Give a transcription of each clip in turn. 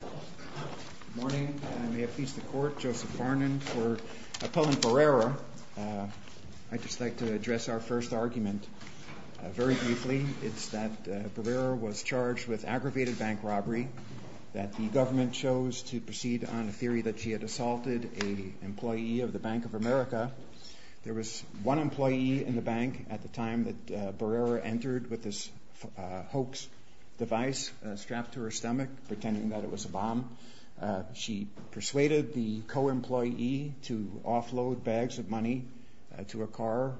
Good morning. I may appease the court, Joseph Varnin, for appellant Barrera. I'd just like to address our first argument very briefly. It's that Barrera was charged with aggravated bank robbery, that the government chose to proceed on a theory that she had assaulted an employee of the Bank of America. There was one employee in the bank at the time that Barrera entered with this hoax device strapped to her stomach, pretending that it was a bomb. She persuaded the co-employee to offload bags of money to a car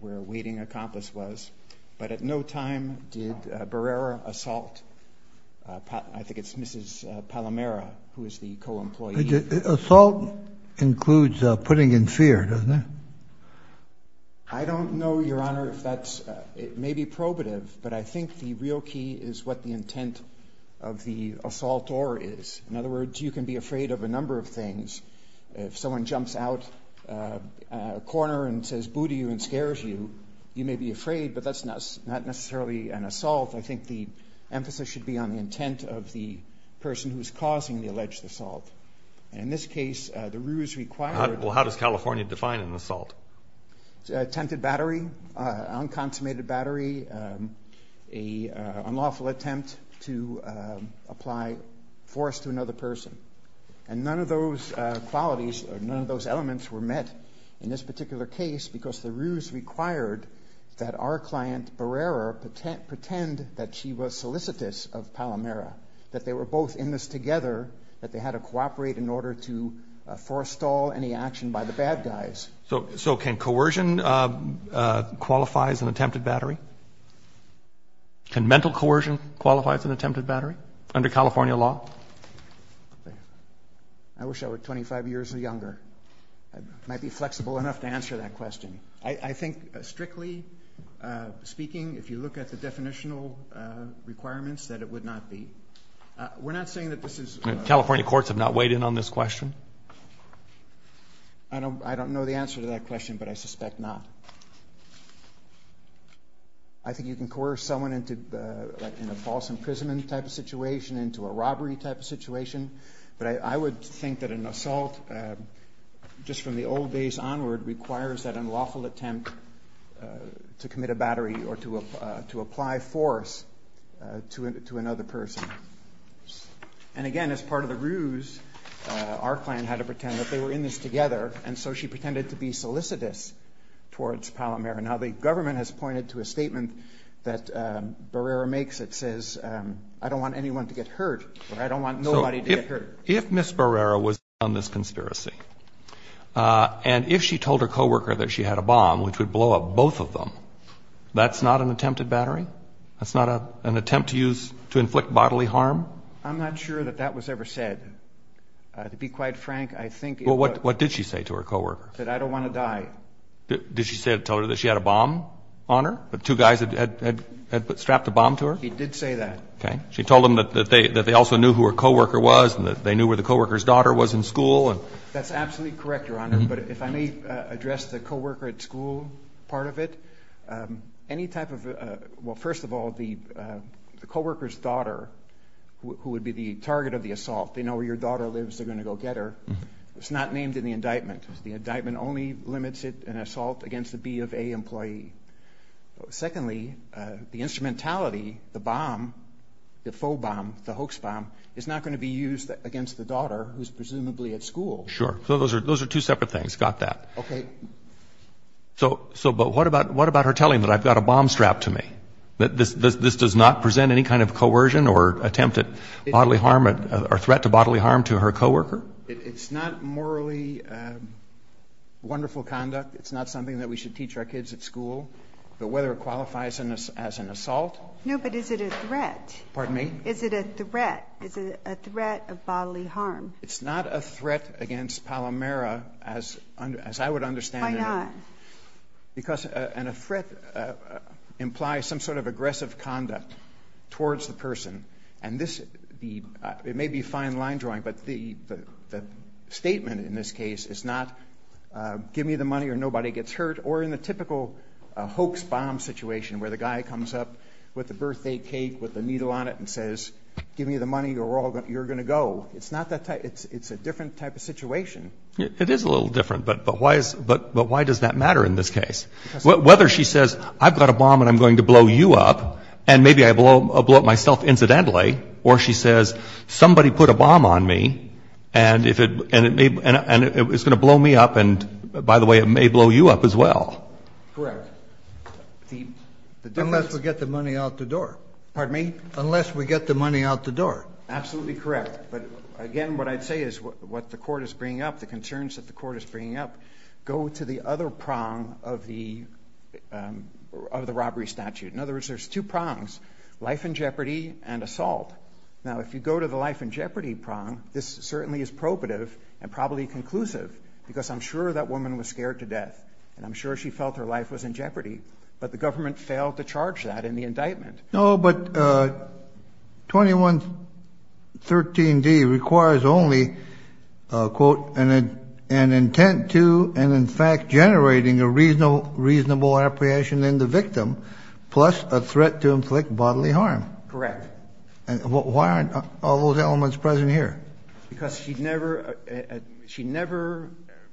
where a waiting accomplice was. But at no time did Barrera assault, I think it's Mrs. Palomera, who is the co-employee. Assault includes putting in fear, doesn't it? I don't know, Your Honor, if that's, it may be probative, but I think the real key is what the intent of the assault or is. In other words, you can be afraid of a number of things. If someone jumps out a corner and says boo to you and scares you, you may be afraid, but that's not necessarily an assault. I think the emphasis should be on the intent of the person who is causing the alleged assault. In this case, the ruse required. Well, how does California define an assault? Attempted battery, unconsummated battery, an unlawful attempt to apply force to another person. And none of those qualities or none of those elements were met in this particular case because the ruse required that our client, Barrera, pretend that she was solicitous of Palomera, that they were both in this together, that they had to cooperate in order to forestall any action by the bad guys. So can coercion qualify as an attempted battery? Can mental coercion qualify as an attempted battery under California law? I wish I were 25 years younger. I might be flexible enough to answer that question. I think strictly speaking, if you look at the definitional requirements, that it would not be. We're not saying that this is. California courts have not weighed in on this question. I don't know the answer to that question, but I suspect not. I think you can coerce someone into a false imprisonment type of situation, into a robbery type of situation. But I would think that an assault, just from the old days onward, requires that unlawful attempt to commit a battery or to apply force to another person. And again, as part of the ruse, our client had to pretend that they were in this together, and so she pretended to be solicitous towards Palomera. Now, the government has pointed to a statement that Barrera makes that says, I don't want anyone to get hurt, or I don't want nobody to get hurt. So if Ms. Barrera was on this conspiracy, and if she told her coworker that she had a bomb, which would blow up both of them, that's not an attempted battery? That's not an attempt to inflict bodily harm? I'm not sure that that was ever said. To be quite frank, I think it was. Well, what did she say to her coworker? She said, I don't want to die. Did she tell her that she had a bomb on her, that two guys had strapped a bomb to her? She did say that. Okay. She told them that they also knew who her coworker was, and that they knew where the coworker's daughter was in school? That's absolutely correct, Your Honor. But if I may address the coworker at school part of it, any type of – well, first of all, the coworker's daughter, who would be the target of the assault, they know where your daughter lives, they're going to go get her. It's not named in the indictment. The indictment only limits it, an assault against a B of A employee. Secondly, the instrumentality, the bomb, the faux bomb, the hoax bomb, is not going to be used against the daughter, who's presumably at school. Sure. So those are two separate things. Got that. Okay. But what about her telling them, I've got a bomb strapped to me? This does not present any kind of coercion or attempt at bodily harm or threat to bodily harm to her coworker? It's not morally wonderful conduct. It's not something that we should teach our kids at school. But whether it qualifies as an assault? No, but is it a threat? Pardon me? Is it a threat? Is it a threat of bodily harm? It's not a threat against Palomera, as I would understand it. Why not? Because a threat implies some sort of aggressive conduct towards the person. And this may be fine line drawing, but the statement in this case is not give me the money or nobody gets hurt, or in the typical hoax bomb situation where the guy comes up with a birthday cake with a needle on it and says, give me the money or you're going to go. It's not that type. It's a different type of situation. It is a little different, but why does that matter in this case? Whether she says, I've got a bomb and I'm going to blow you up, and maybe I blow up myself incidentally, or she says, somebody put a bomb on me and it's going to blow me up and, by the way, it may blow you up as well. Correct. Unless we get the money out the door. Pardon me? Unless we get the money out the door. Absolutely correct. But, again, what I'd say is what the court is bringing up, the concerns that the court is bringing up, go to the other prong of the robbery statute. In other words, there's two prongs, life in jeopardy and assault. Now, if you go to the life in jeopardy prong, this certainly is probative and probably conclusive because I'm sure that woman was scared to death and I'm sure she felt her life was in jeopardy, but the government failed to charge that in the indictment. No, but 2113D requires only, quote, an intent to and, in fact, generating a reasonable apprehension in the victim plus a threat to inflict bodily harm. Correct. Why aren't all those elements present here? Because she never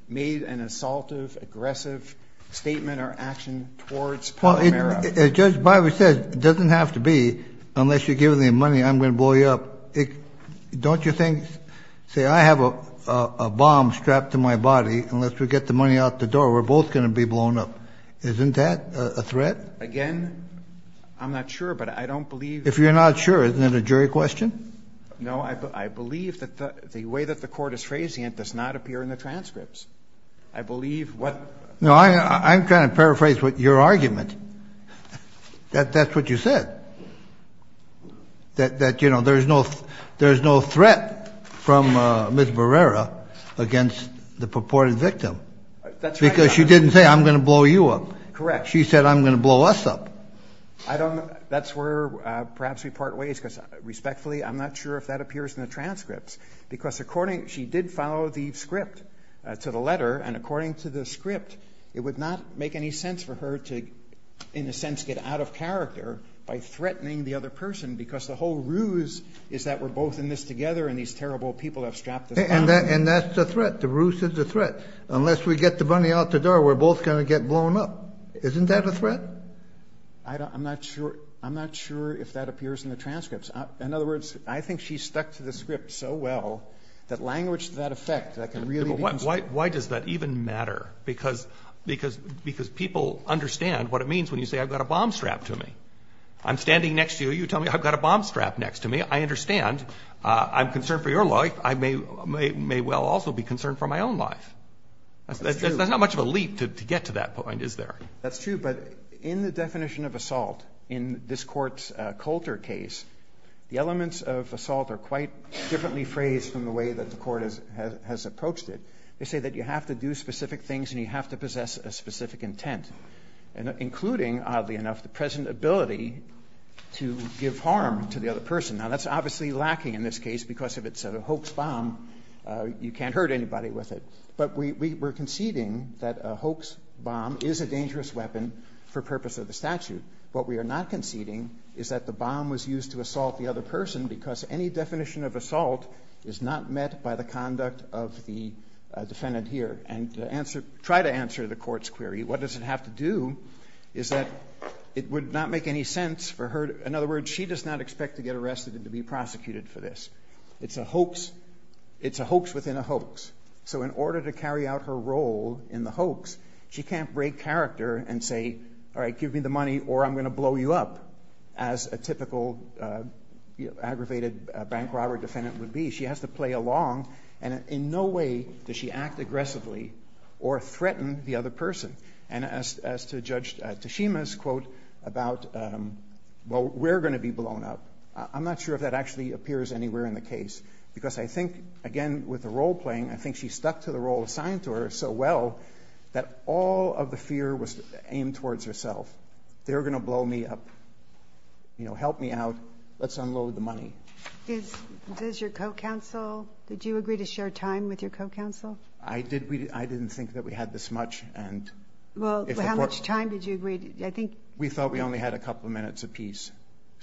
made an assaultive, aggressive statement or action towards Palomero. As Judge Biver said, it doesn't have to be, unless you're giving me money, I'm going to blow you up. Don't you think, say, I have a bomb strapped to my body, unless we get the money out the door, we're both going to be blown up. Isn't that a threat? Again, I'm not sure, but I don't believe. If you're not sure, isn't it a jury question? No, I believe that the way that the court is phrasing it does not appear in the transcripts. I believe what. No, I'm trying to paraphrase your argument. That's what you said, that, you know, there's no threat from Ms. Barrera against the purported victim. That's right. Because she didn't say, I'm going to blow you up. Correct. She said, I'm going to blow us up. That's where perhaps we part ways, because respectfully I'm not sure if that appears in the transcripts, because according, she did follow the script to the letter, and according to the script, it would not make any sense for her to, in a sense, get out of character by threatening the other person, because the whole ruse is that we're both in this together and these terrible people have strapped us up. And that's the threat. The ruse is the threat. Unless we get the money out the door, we're both going to get blown up. Isn't that a threat? I'm not sure if that appears in the transcripts. In other words, I think she stuck to the script so well that language to that effect, that can really be considered. Why does that even matter? Because people understand what it means when you say, I've got a bomb strapped to me. I'm standing next to you. You tell me, I've got a bomb strapped next to me. I understand. I'm concerned for your life. I may well also be concerned for my own life. That's not much of a leap to get to that point, is there? That's true. But in the definition of assault in this Court's Coulter case, the elements of assault are quite differently phrased from the way that the Court has approached it. They say that you have to do specific things and you have to possess a specific intent, including, oddly enough, the present ability to give harm to the other person. Now, that's obviously lacking in this case because if it's a hoax bomb, you can't hurt anybody with it. But we're conceding that a hoax bomb is a dangerous weapon for purpose of the statute. What we are not conceding is that the bomb was used to assault the other person because any definition of assault is not met by the conduct of the defendant here. And to try to answer the Court's query, what does it have to do is that it would not make any sense for her to... In other words, she does not expect to get arrested and to be prosecuted for this. It's a hoax. It's a hoax within a hoax. So in order to carry out her role in the hoax, she can't break character and say, all right, give me the money or I'm going to blow you up, as a typical aggravated bank robber defendant would be. She has to play along. And in no way does she act aggressively or threaten the other person. And as to Judge Tashima's quote about, well, we're going to be blown up, I'm not sure if that actually appears anywhere in the case because I think, again, with the role playing, I think she stuck to the role assigned to her so well that all of the fear was aimed towards herself. They're going to blow me up. Help me out. Let's unload the money. Does your co-counsel, did you agree to share time with your co-counsel? I didn't think that we had this much. Well, how much time did you agree? We thought we only had a couple of minutes apiece.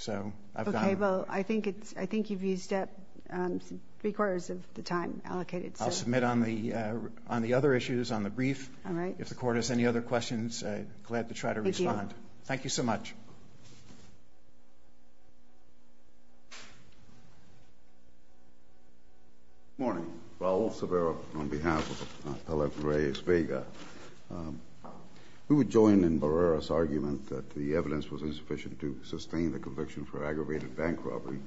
Okay, well, I think you've used up three-quarters of the time allocated. I'll submit on the other issues on the brief. All right. If the Court has any other questions, I'm glad to try to respond. Thank you. Thank you so much. Good morning. Raul Severo on behalf of Appellant Reyes-Vega. We would join in Barrera's argument that the evidence was insufficient to sustain the conviction for aggravated bank robbery.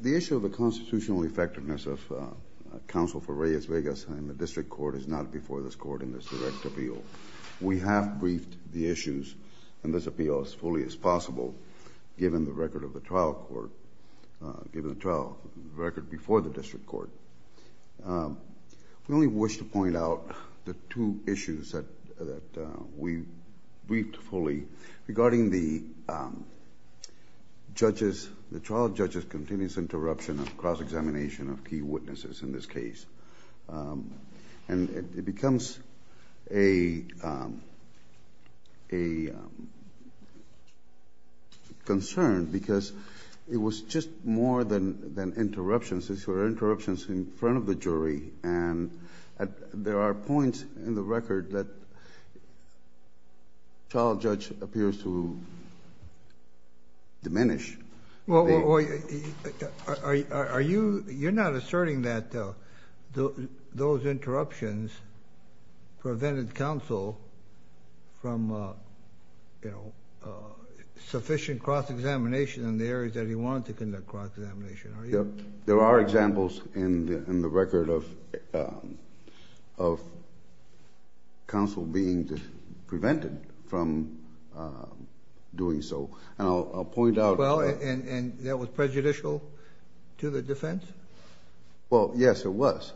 The issue of the constitutional effectiveness of counsel for Reyes-Vega's time in the district court is not before this court in this direct appeal. We have briefed the issues in this appeal as fully as possible, given the record of the trial court... given the trial record before the district court. We only wish to point out the two issues that we briefed fully regarding the trial judge's continuous interruption of cross-examination of key witnesses in this case, and it becomes a concern because it was just more than interruptions. These were interruptions in front of the jury, and there are points in the record that trial judge appears to diminish. Well, you're not asserting that those interruptions prevented counsel from sufficient cross-examination in the areas that he wanted to conduct cross-examination, are you? There are examples in the record of counsel being prevented from doing so, and I'll point out... Well, and that was prejudicial to the defense? Well, yes, it was.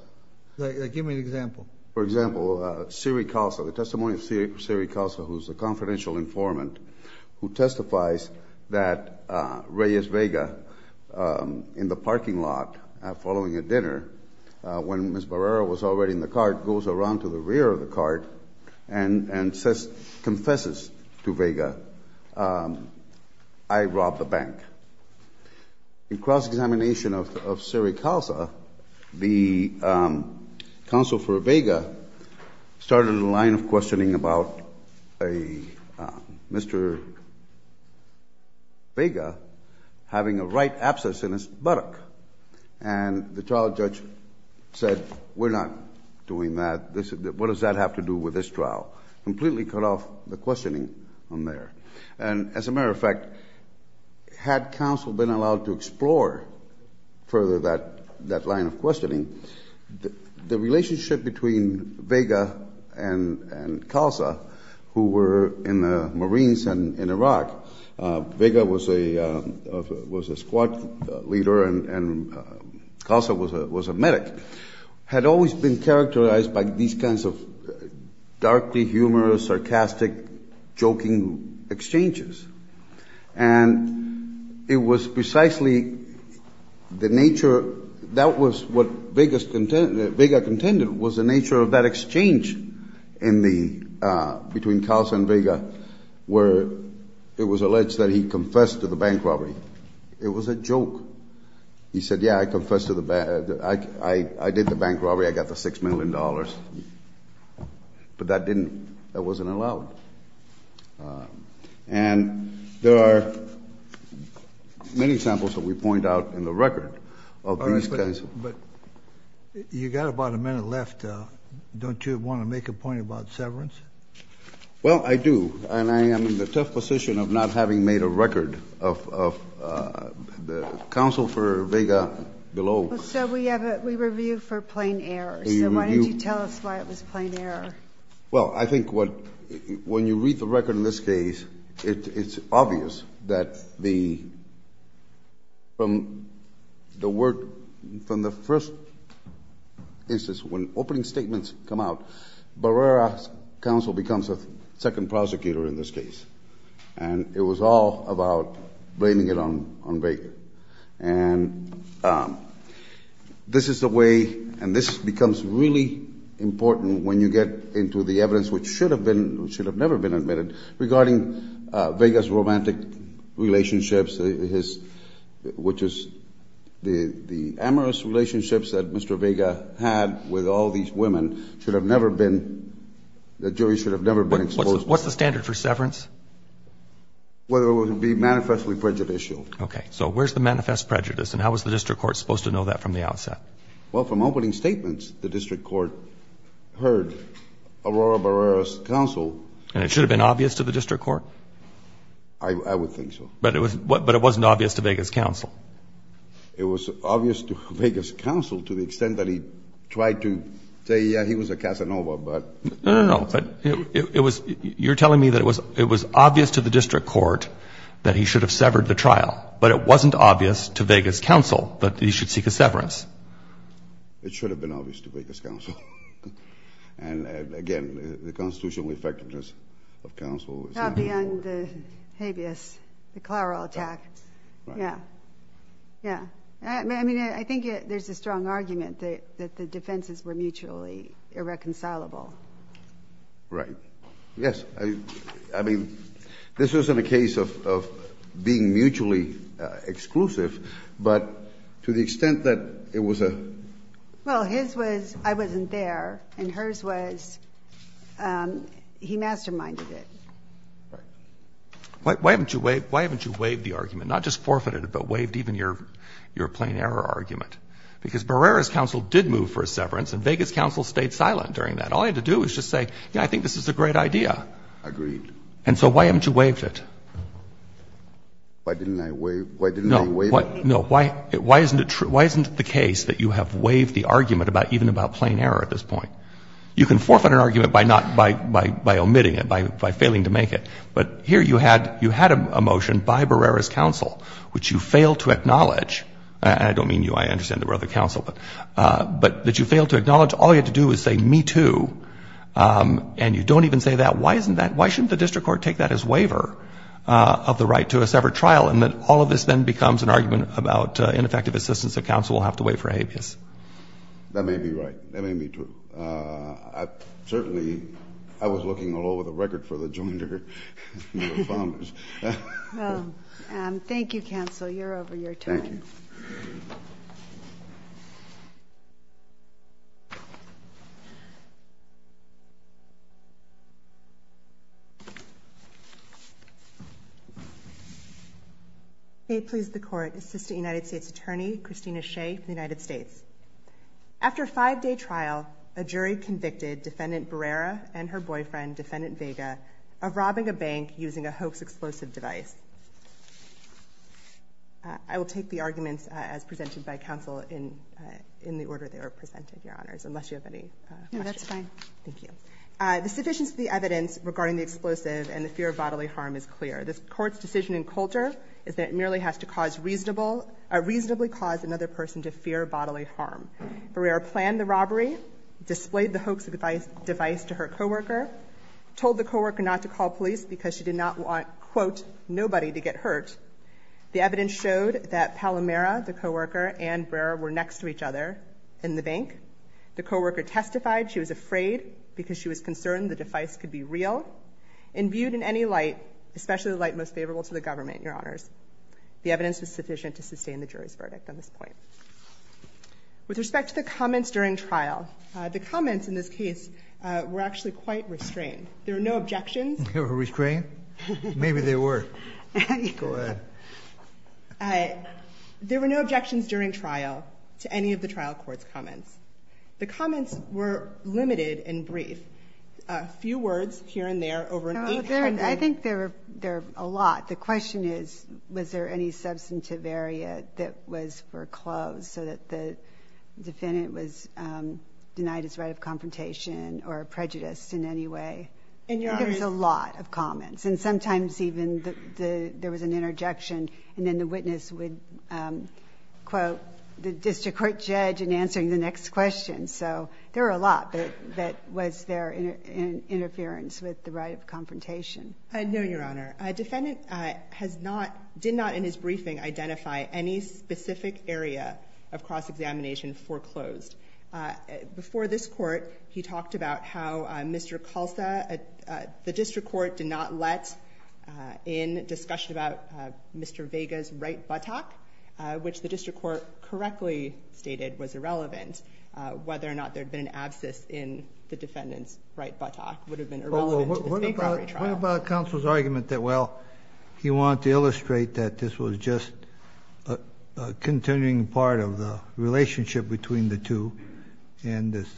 Give me an example. For example, Siri Calza, the testimony of Siri Calza, who's the confidential informant who testifies that Reyes-Vega, in the parking lot following a dinner when Ms. Barrera was already in the car, goes around to the rear of the car and confesses to Vega, I robbed the bank. In cross-examination of Siri Calza, the counsel for Vega started a line of questioning about Mr. Vega having a right abscess in his buttock, and the trial judge said, we're not doing that, what does that have to do with this trial? Completely cut off the questioning from there. And as a matter of fact, had counsel been allowed to explore further that line of questioning, the relationship between Vega and Calza, who were in the Marines and in Iraq, Vega was a squad leader and Calza was a medic, had always been characterized by these kinds of darkly humorous, sarcastic, joking exchanges. And it was precisely the nature, that was what Vega contended, was the nature of that exchange between Calza and Vega, where it was alleged that he confessed to the bank robbery. It was a joke. He said, yeah, I confessed to the bank, I did the bank robbery, I got the $6 million. But that wasn't allowed. And there are many examples that we point out in the record. But you've got about a minute left. Don't you want to make a point about severance? Well, I do. And I am in the tough position of not having made a record of the counsel for Vega below. So we review for plain error. So why didn't you tell us why it was plain error? Well, I think when you read the record in this case, it's obvious that from the first instance, when opening statements come out, Barrera's counsel becomes a second prosecutor in this case. And it was all about blaming it on Vega. And this is the way, and this becomes really important when you get into the evidence, which should have never been admitted, regarding Vega's romantic relationships, which is the amorous relationships that Mr. Vega had with all these women that the jury should have never been exposed to. What's the standard for severance? Whether it would be manifestly prejudicial. Okay. So where's the manifest prejudice, and how was the district court supposed to know that from the outset? Well, from opening statements, the district court heard Aurora Barrera's counsel. And it should have been obvious to the district court? I would think so. But it wasn't obvious to Vega's counsel. It was obvious to Vega's counsel to the extent that he tried to say, yeah, he was a Casanova, but. No, no, no. You're telling me that it was obvious to the district court that he should have severed the trial, but it wasn't obvious to Vega's counsel that he should seek a severance? It should have been obvious to Vega's counsel. And, again, the constitutional effectiveness of counsel. Probably on the habeas, the Clara attack. Yeah. Yeah. I mean, I think there's a strong argument that the defenses were mutually irreconcilable. Right. Yes. I mean, this wasn't a case of being mutually exclusive, but to the extent that it was a... Why haven't you waived the argument? Not just forfeited it, but waived even your plain error argument? Because Barrera's counsel did move for a severance, and Vega's counsel stayed silent during that. All he had to do was just say, yeah, I think this is a great idea. Agreed. And so why haven't you waived it? Why didn't I waive it? No. No. Why isn't it true? Why isn't it the case that you have waived the argument even about plain error at this point? You can forfeit an argument by omitting it, by failing to make it. But here you had a motion by Barrera's counsel which you failed to acknowledge. And I don't mean you. I understand there were other counsel. But that you failed to acknowledge. All you had to do was say, me too. And you don't even say that. Why isn't that... Why shouldn't the district court take that as waiver of the right to a severed trial, and that all of this then becomes an argument about ineffective assistance that counsel will have to waive for habeas? That may be right. That may be true. Certainly, I was looking all over the record for the Joiner founders. Thank you, counsel. You're over your time. Thank you. May it please the Court. Assistant United States Attorney, Christina Shea from the United States. After a five-day trial, a jury convicted Defendant Barrera and her boyfriend, Defendant Vega, of robbing a bank using a hoax explosive device. I will take the arguments as presented by counsel in the order they were presented, Your Honors, unless you have any questions. No, that's fine. Thank you. The sufficiency of the evidence regarding the explosive and the fear of bodily harm is clear. The Court's decision in Coulter is that it merely has to reasonably cause another person to fear bodily harm. Barrera planned the robbery, displayed the hoax device to her co-worker, told the co-worker not to call police because she did not want, quote, nobody to get hurt. The evidence showed that Palomera, the co-worker, and Barrera were next to each other in the bank. The co-worker testified she was afraid because she was concerned the device could be real. Imbued in any light, especially the light most favorable to the government, Your Honors, the evidence was sufficient to sustain the jury's verdict on this point. With respect to the comments during trial, the comments in this case were actually quite restrained. There were no objections. They were restrained? Maybe they were. Go ahead. There were no objections during trial to any of the trial court's comments. The comments were limited and brief. A few words here and there over an eight-minute period. I think there were a lot. The question is, was there any substantive area that was foreclosed so that the defendant was denied his right of confrontation or prejudice in any way? I think there was a lot of comments, and sometimes even there was an interjection, and then the witness would quote the district court judge in answering the next question. So there were a lot that was there in interference with the right of confrontation. No, Your Honor. A defendant did not in his briefing identify any specific area of cross-examination foreclosed. Before this court, he talked about how Mr. Calza, the district court did not let in discussion about Mr. Vega's right buttock, which the district court correctly stated was irrelevant. Whether or not there had been an abscess in the defendant's right buttock would have been irrelevant to the state robbery trial. What about counsel's argument that, well, he wanted to illustrate that this was just a continuing part of the relationship between the two and this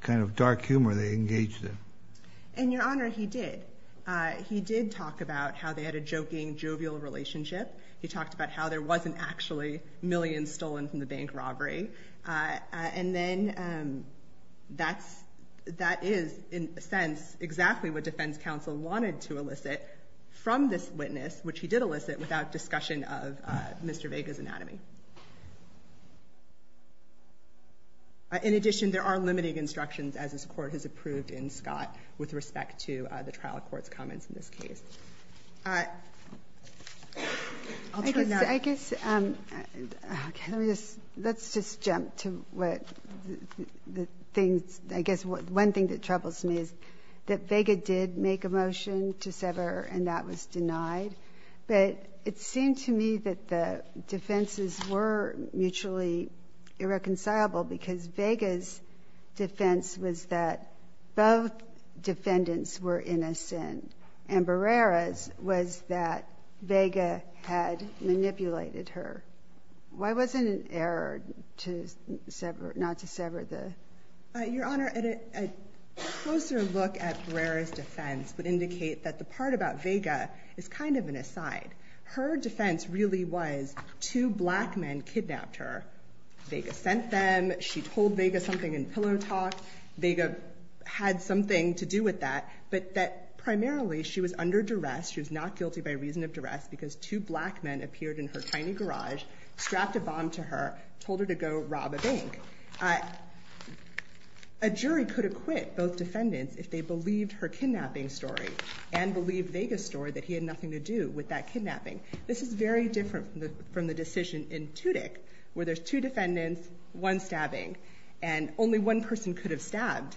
kind of dark humor they engaged in? And, Your Honor, he did. He did talk about how they had a joking, jovial relationship. He talked about how there wasn't actually millions stolen from the bank robbery. And then that is, in a sense, exactly what defense counsel wanted to elicit from this witness, which he did elicit without discussion of Mr. Vega's anatomy. In addition, there are limiting instructions, as this court has approved in Scott, with respect to the trial court's comments in this case. All right. I'll turn now. I guess, let's just jump to what the things, I guess one thing that troubles me is that Vega did make a motion to sever and that was denied. But it seemed to me that the defenses were mutually irreconcilable because Vega's defense was that both defendants were innocent. And Barrera's was that Vega had manipulated her. Why was it an error not to sever the? Your Honor, a closer look at Barrera's defense would indicate that the part about Vega is kind of an aside. Her defense really was two black men kidnapped her. Vega sent them. She told Vega something in pillow talk. Vega had something to do with that. But that primarily she was under duress, she was not guilty by reason of duress because two black men appeared in her tiny garage, strapped a bomb to her, told her to go rob a bank. A jury could acquit both defendants if they believed her kidnapping story and believed Vega's story that he had nothing to do with that kidnapping. This is very different from the decision in Tudyk where there's two defendants, one stabbing, and only one person could have stabbed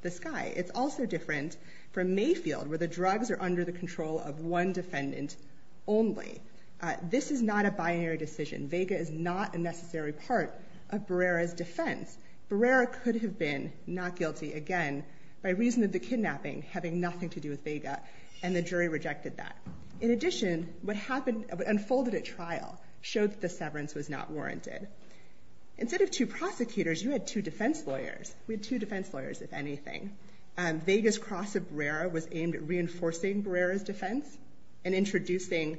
this guy. It's also different from Mayfield where the drugs are under the control of one defendant only. This is not a binary decision. Vega is not a necessary part of Barrera's defense. Barrera could have been not guilty, again, by reason of the kidnapping having nothing to do with Vega, and the jury rejected that. In addition, what unfolded at trial showed that the severance was not warranted. Instead of two prosecutors, you had two defense lawyers. We had two defense lawyers, if anything. Vega's cross of Barrera was aimed at reinforcing Barrera's defense and introducing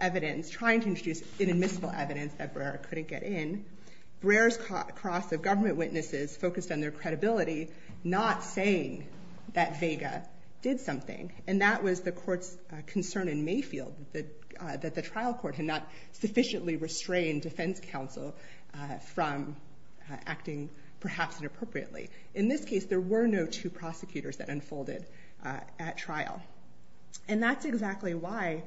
evidence, trying to introduce inadmissible evidence that Barrera couldn't get in. Barrera's cross of government witnesses focused on their credibility, not saying that Vega did something, and that was the court's concern in Mayfield that the trial court had not sufficiently restrained defense counsel from acting perhaps inappropriately. In this case, there were no two prosecutors that unfolded at trial. And that's exactly why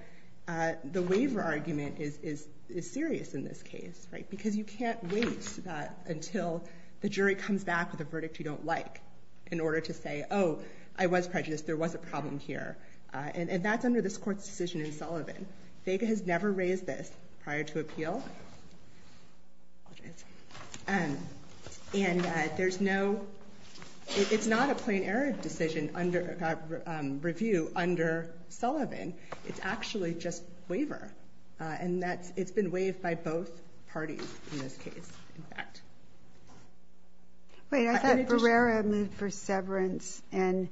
the waiver argument is serious in this case, because you can't wait until the jury comes back with a verdict you don't like in order to say, oh, I was prejudiced, there was a problem here. And that's under this court's decision in Sullivan. Vega has never raised this prior to appeal. And there's no – it's not a plain error decision under – review under Sullivan. It's actually just waiver. And that's – it's been waived by both parties in this case, in fact. Wait, I thought Barrera moved for severance and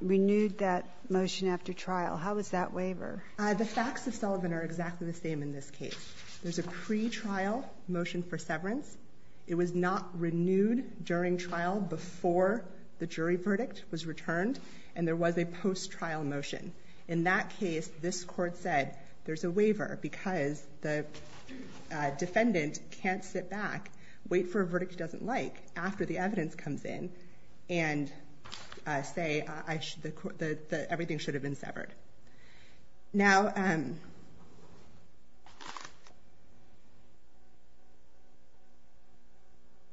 renewed that motion after trial. How is that waiver? The facts of Sullivan are exactly the same in this case. There's a pretrial motion for severance. It was not renewed during trial before the jury verdict was returned, and there was a post-trial motion. In that case, this court said there's a waiver because the defendant can't sit back, wait for a verdict he doesn't like after the evidence comes in, and say everything should have been severed. Now –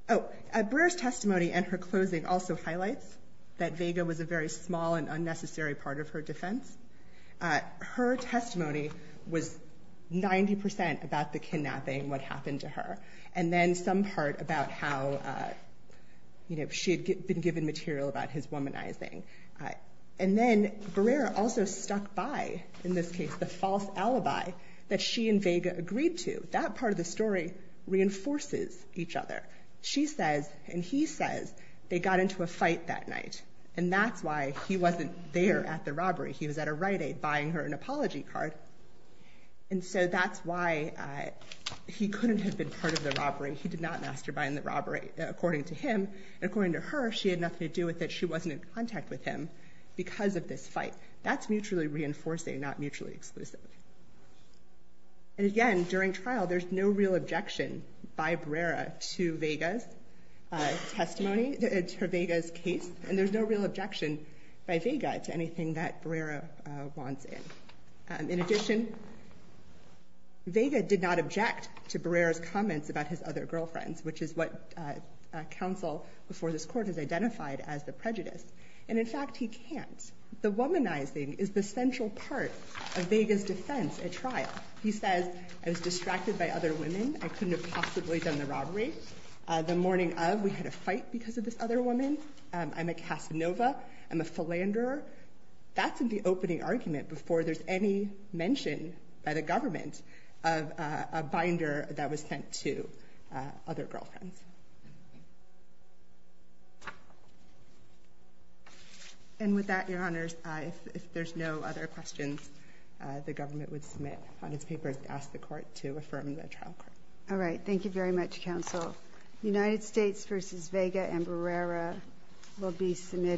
oh, Barrera's testimony and her closing also highlights that Vega was a very small and unnecessary part of her defense. Her testimony was 90% about the kidnapping, what happened to her, and then some part about how she had been given material about his womanizing. And then Barrera also stuck by, in this case, the false alibi that she and Vega agreed to. That part of the story reinforces each other. She says and he says they got into a fight that night, and that's why he wasn't there at the robbery. He was at a Rite Aid buying her an apology card. And so that's why he couldn't have been part of the robbery. He did not masturbate in the robbery, according to him. According to her, she had nothing to do with it. She wasn't in contact with him because of this fight. That's mutually reinforcing, not mutually exclusive. And again, during trial, there's no real objection by Barrera to Vega's testimony, to Vega's case, and there's no real objection by Vega to anything that Barrera wants in. In addition, Vega did not object to Barrera's comments about his other girlfriends, which is what counsel before this court has identified as the prejudice. And in fact, he can't. The womanizing is the central part of Vega's defense at trial. He says, I was distracted by other women. I couldn't have possibly done the robbery. The morning of, we had a fight because of this other woman. I'm a Casanova. I'm a philanderer. That's the opening argument before there's any mention by the government of a binder that was sent to other girlfriends. And with that, Your Honors, if there's no other questions, the government would submit on its papers to ask the court to affirm the trial court. All right. Thank you very much, counsel. The United States v. Vega and Barrera will be submitted.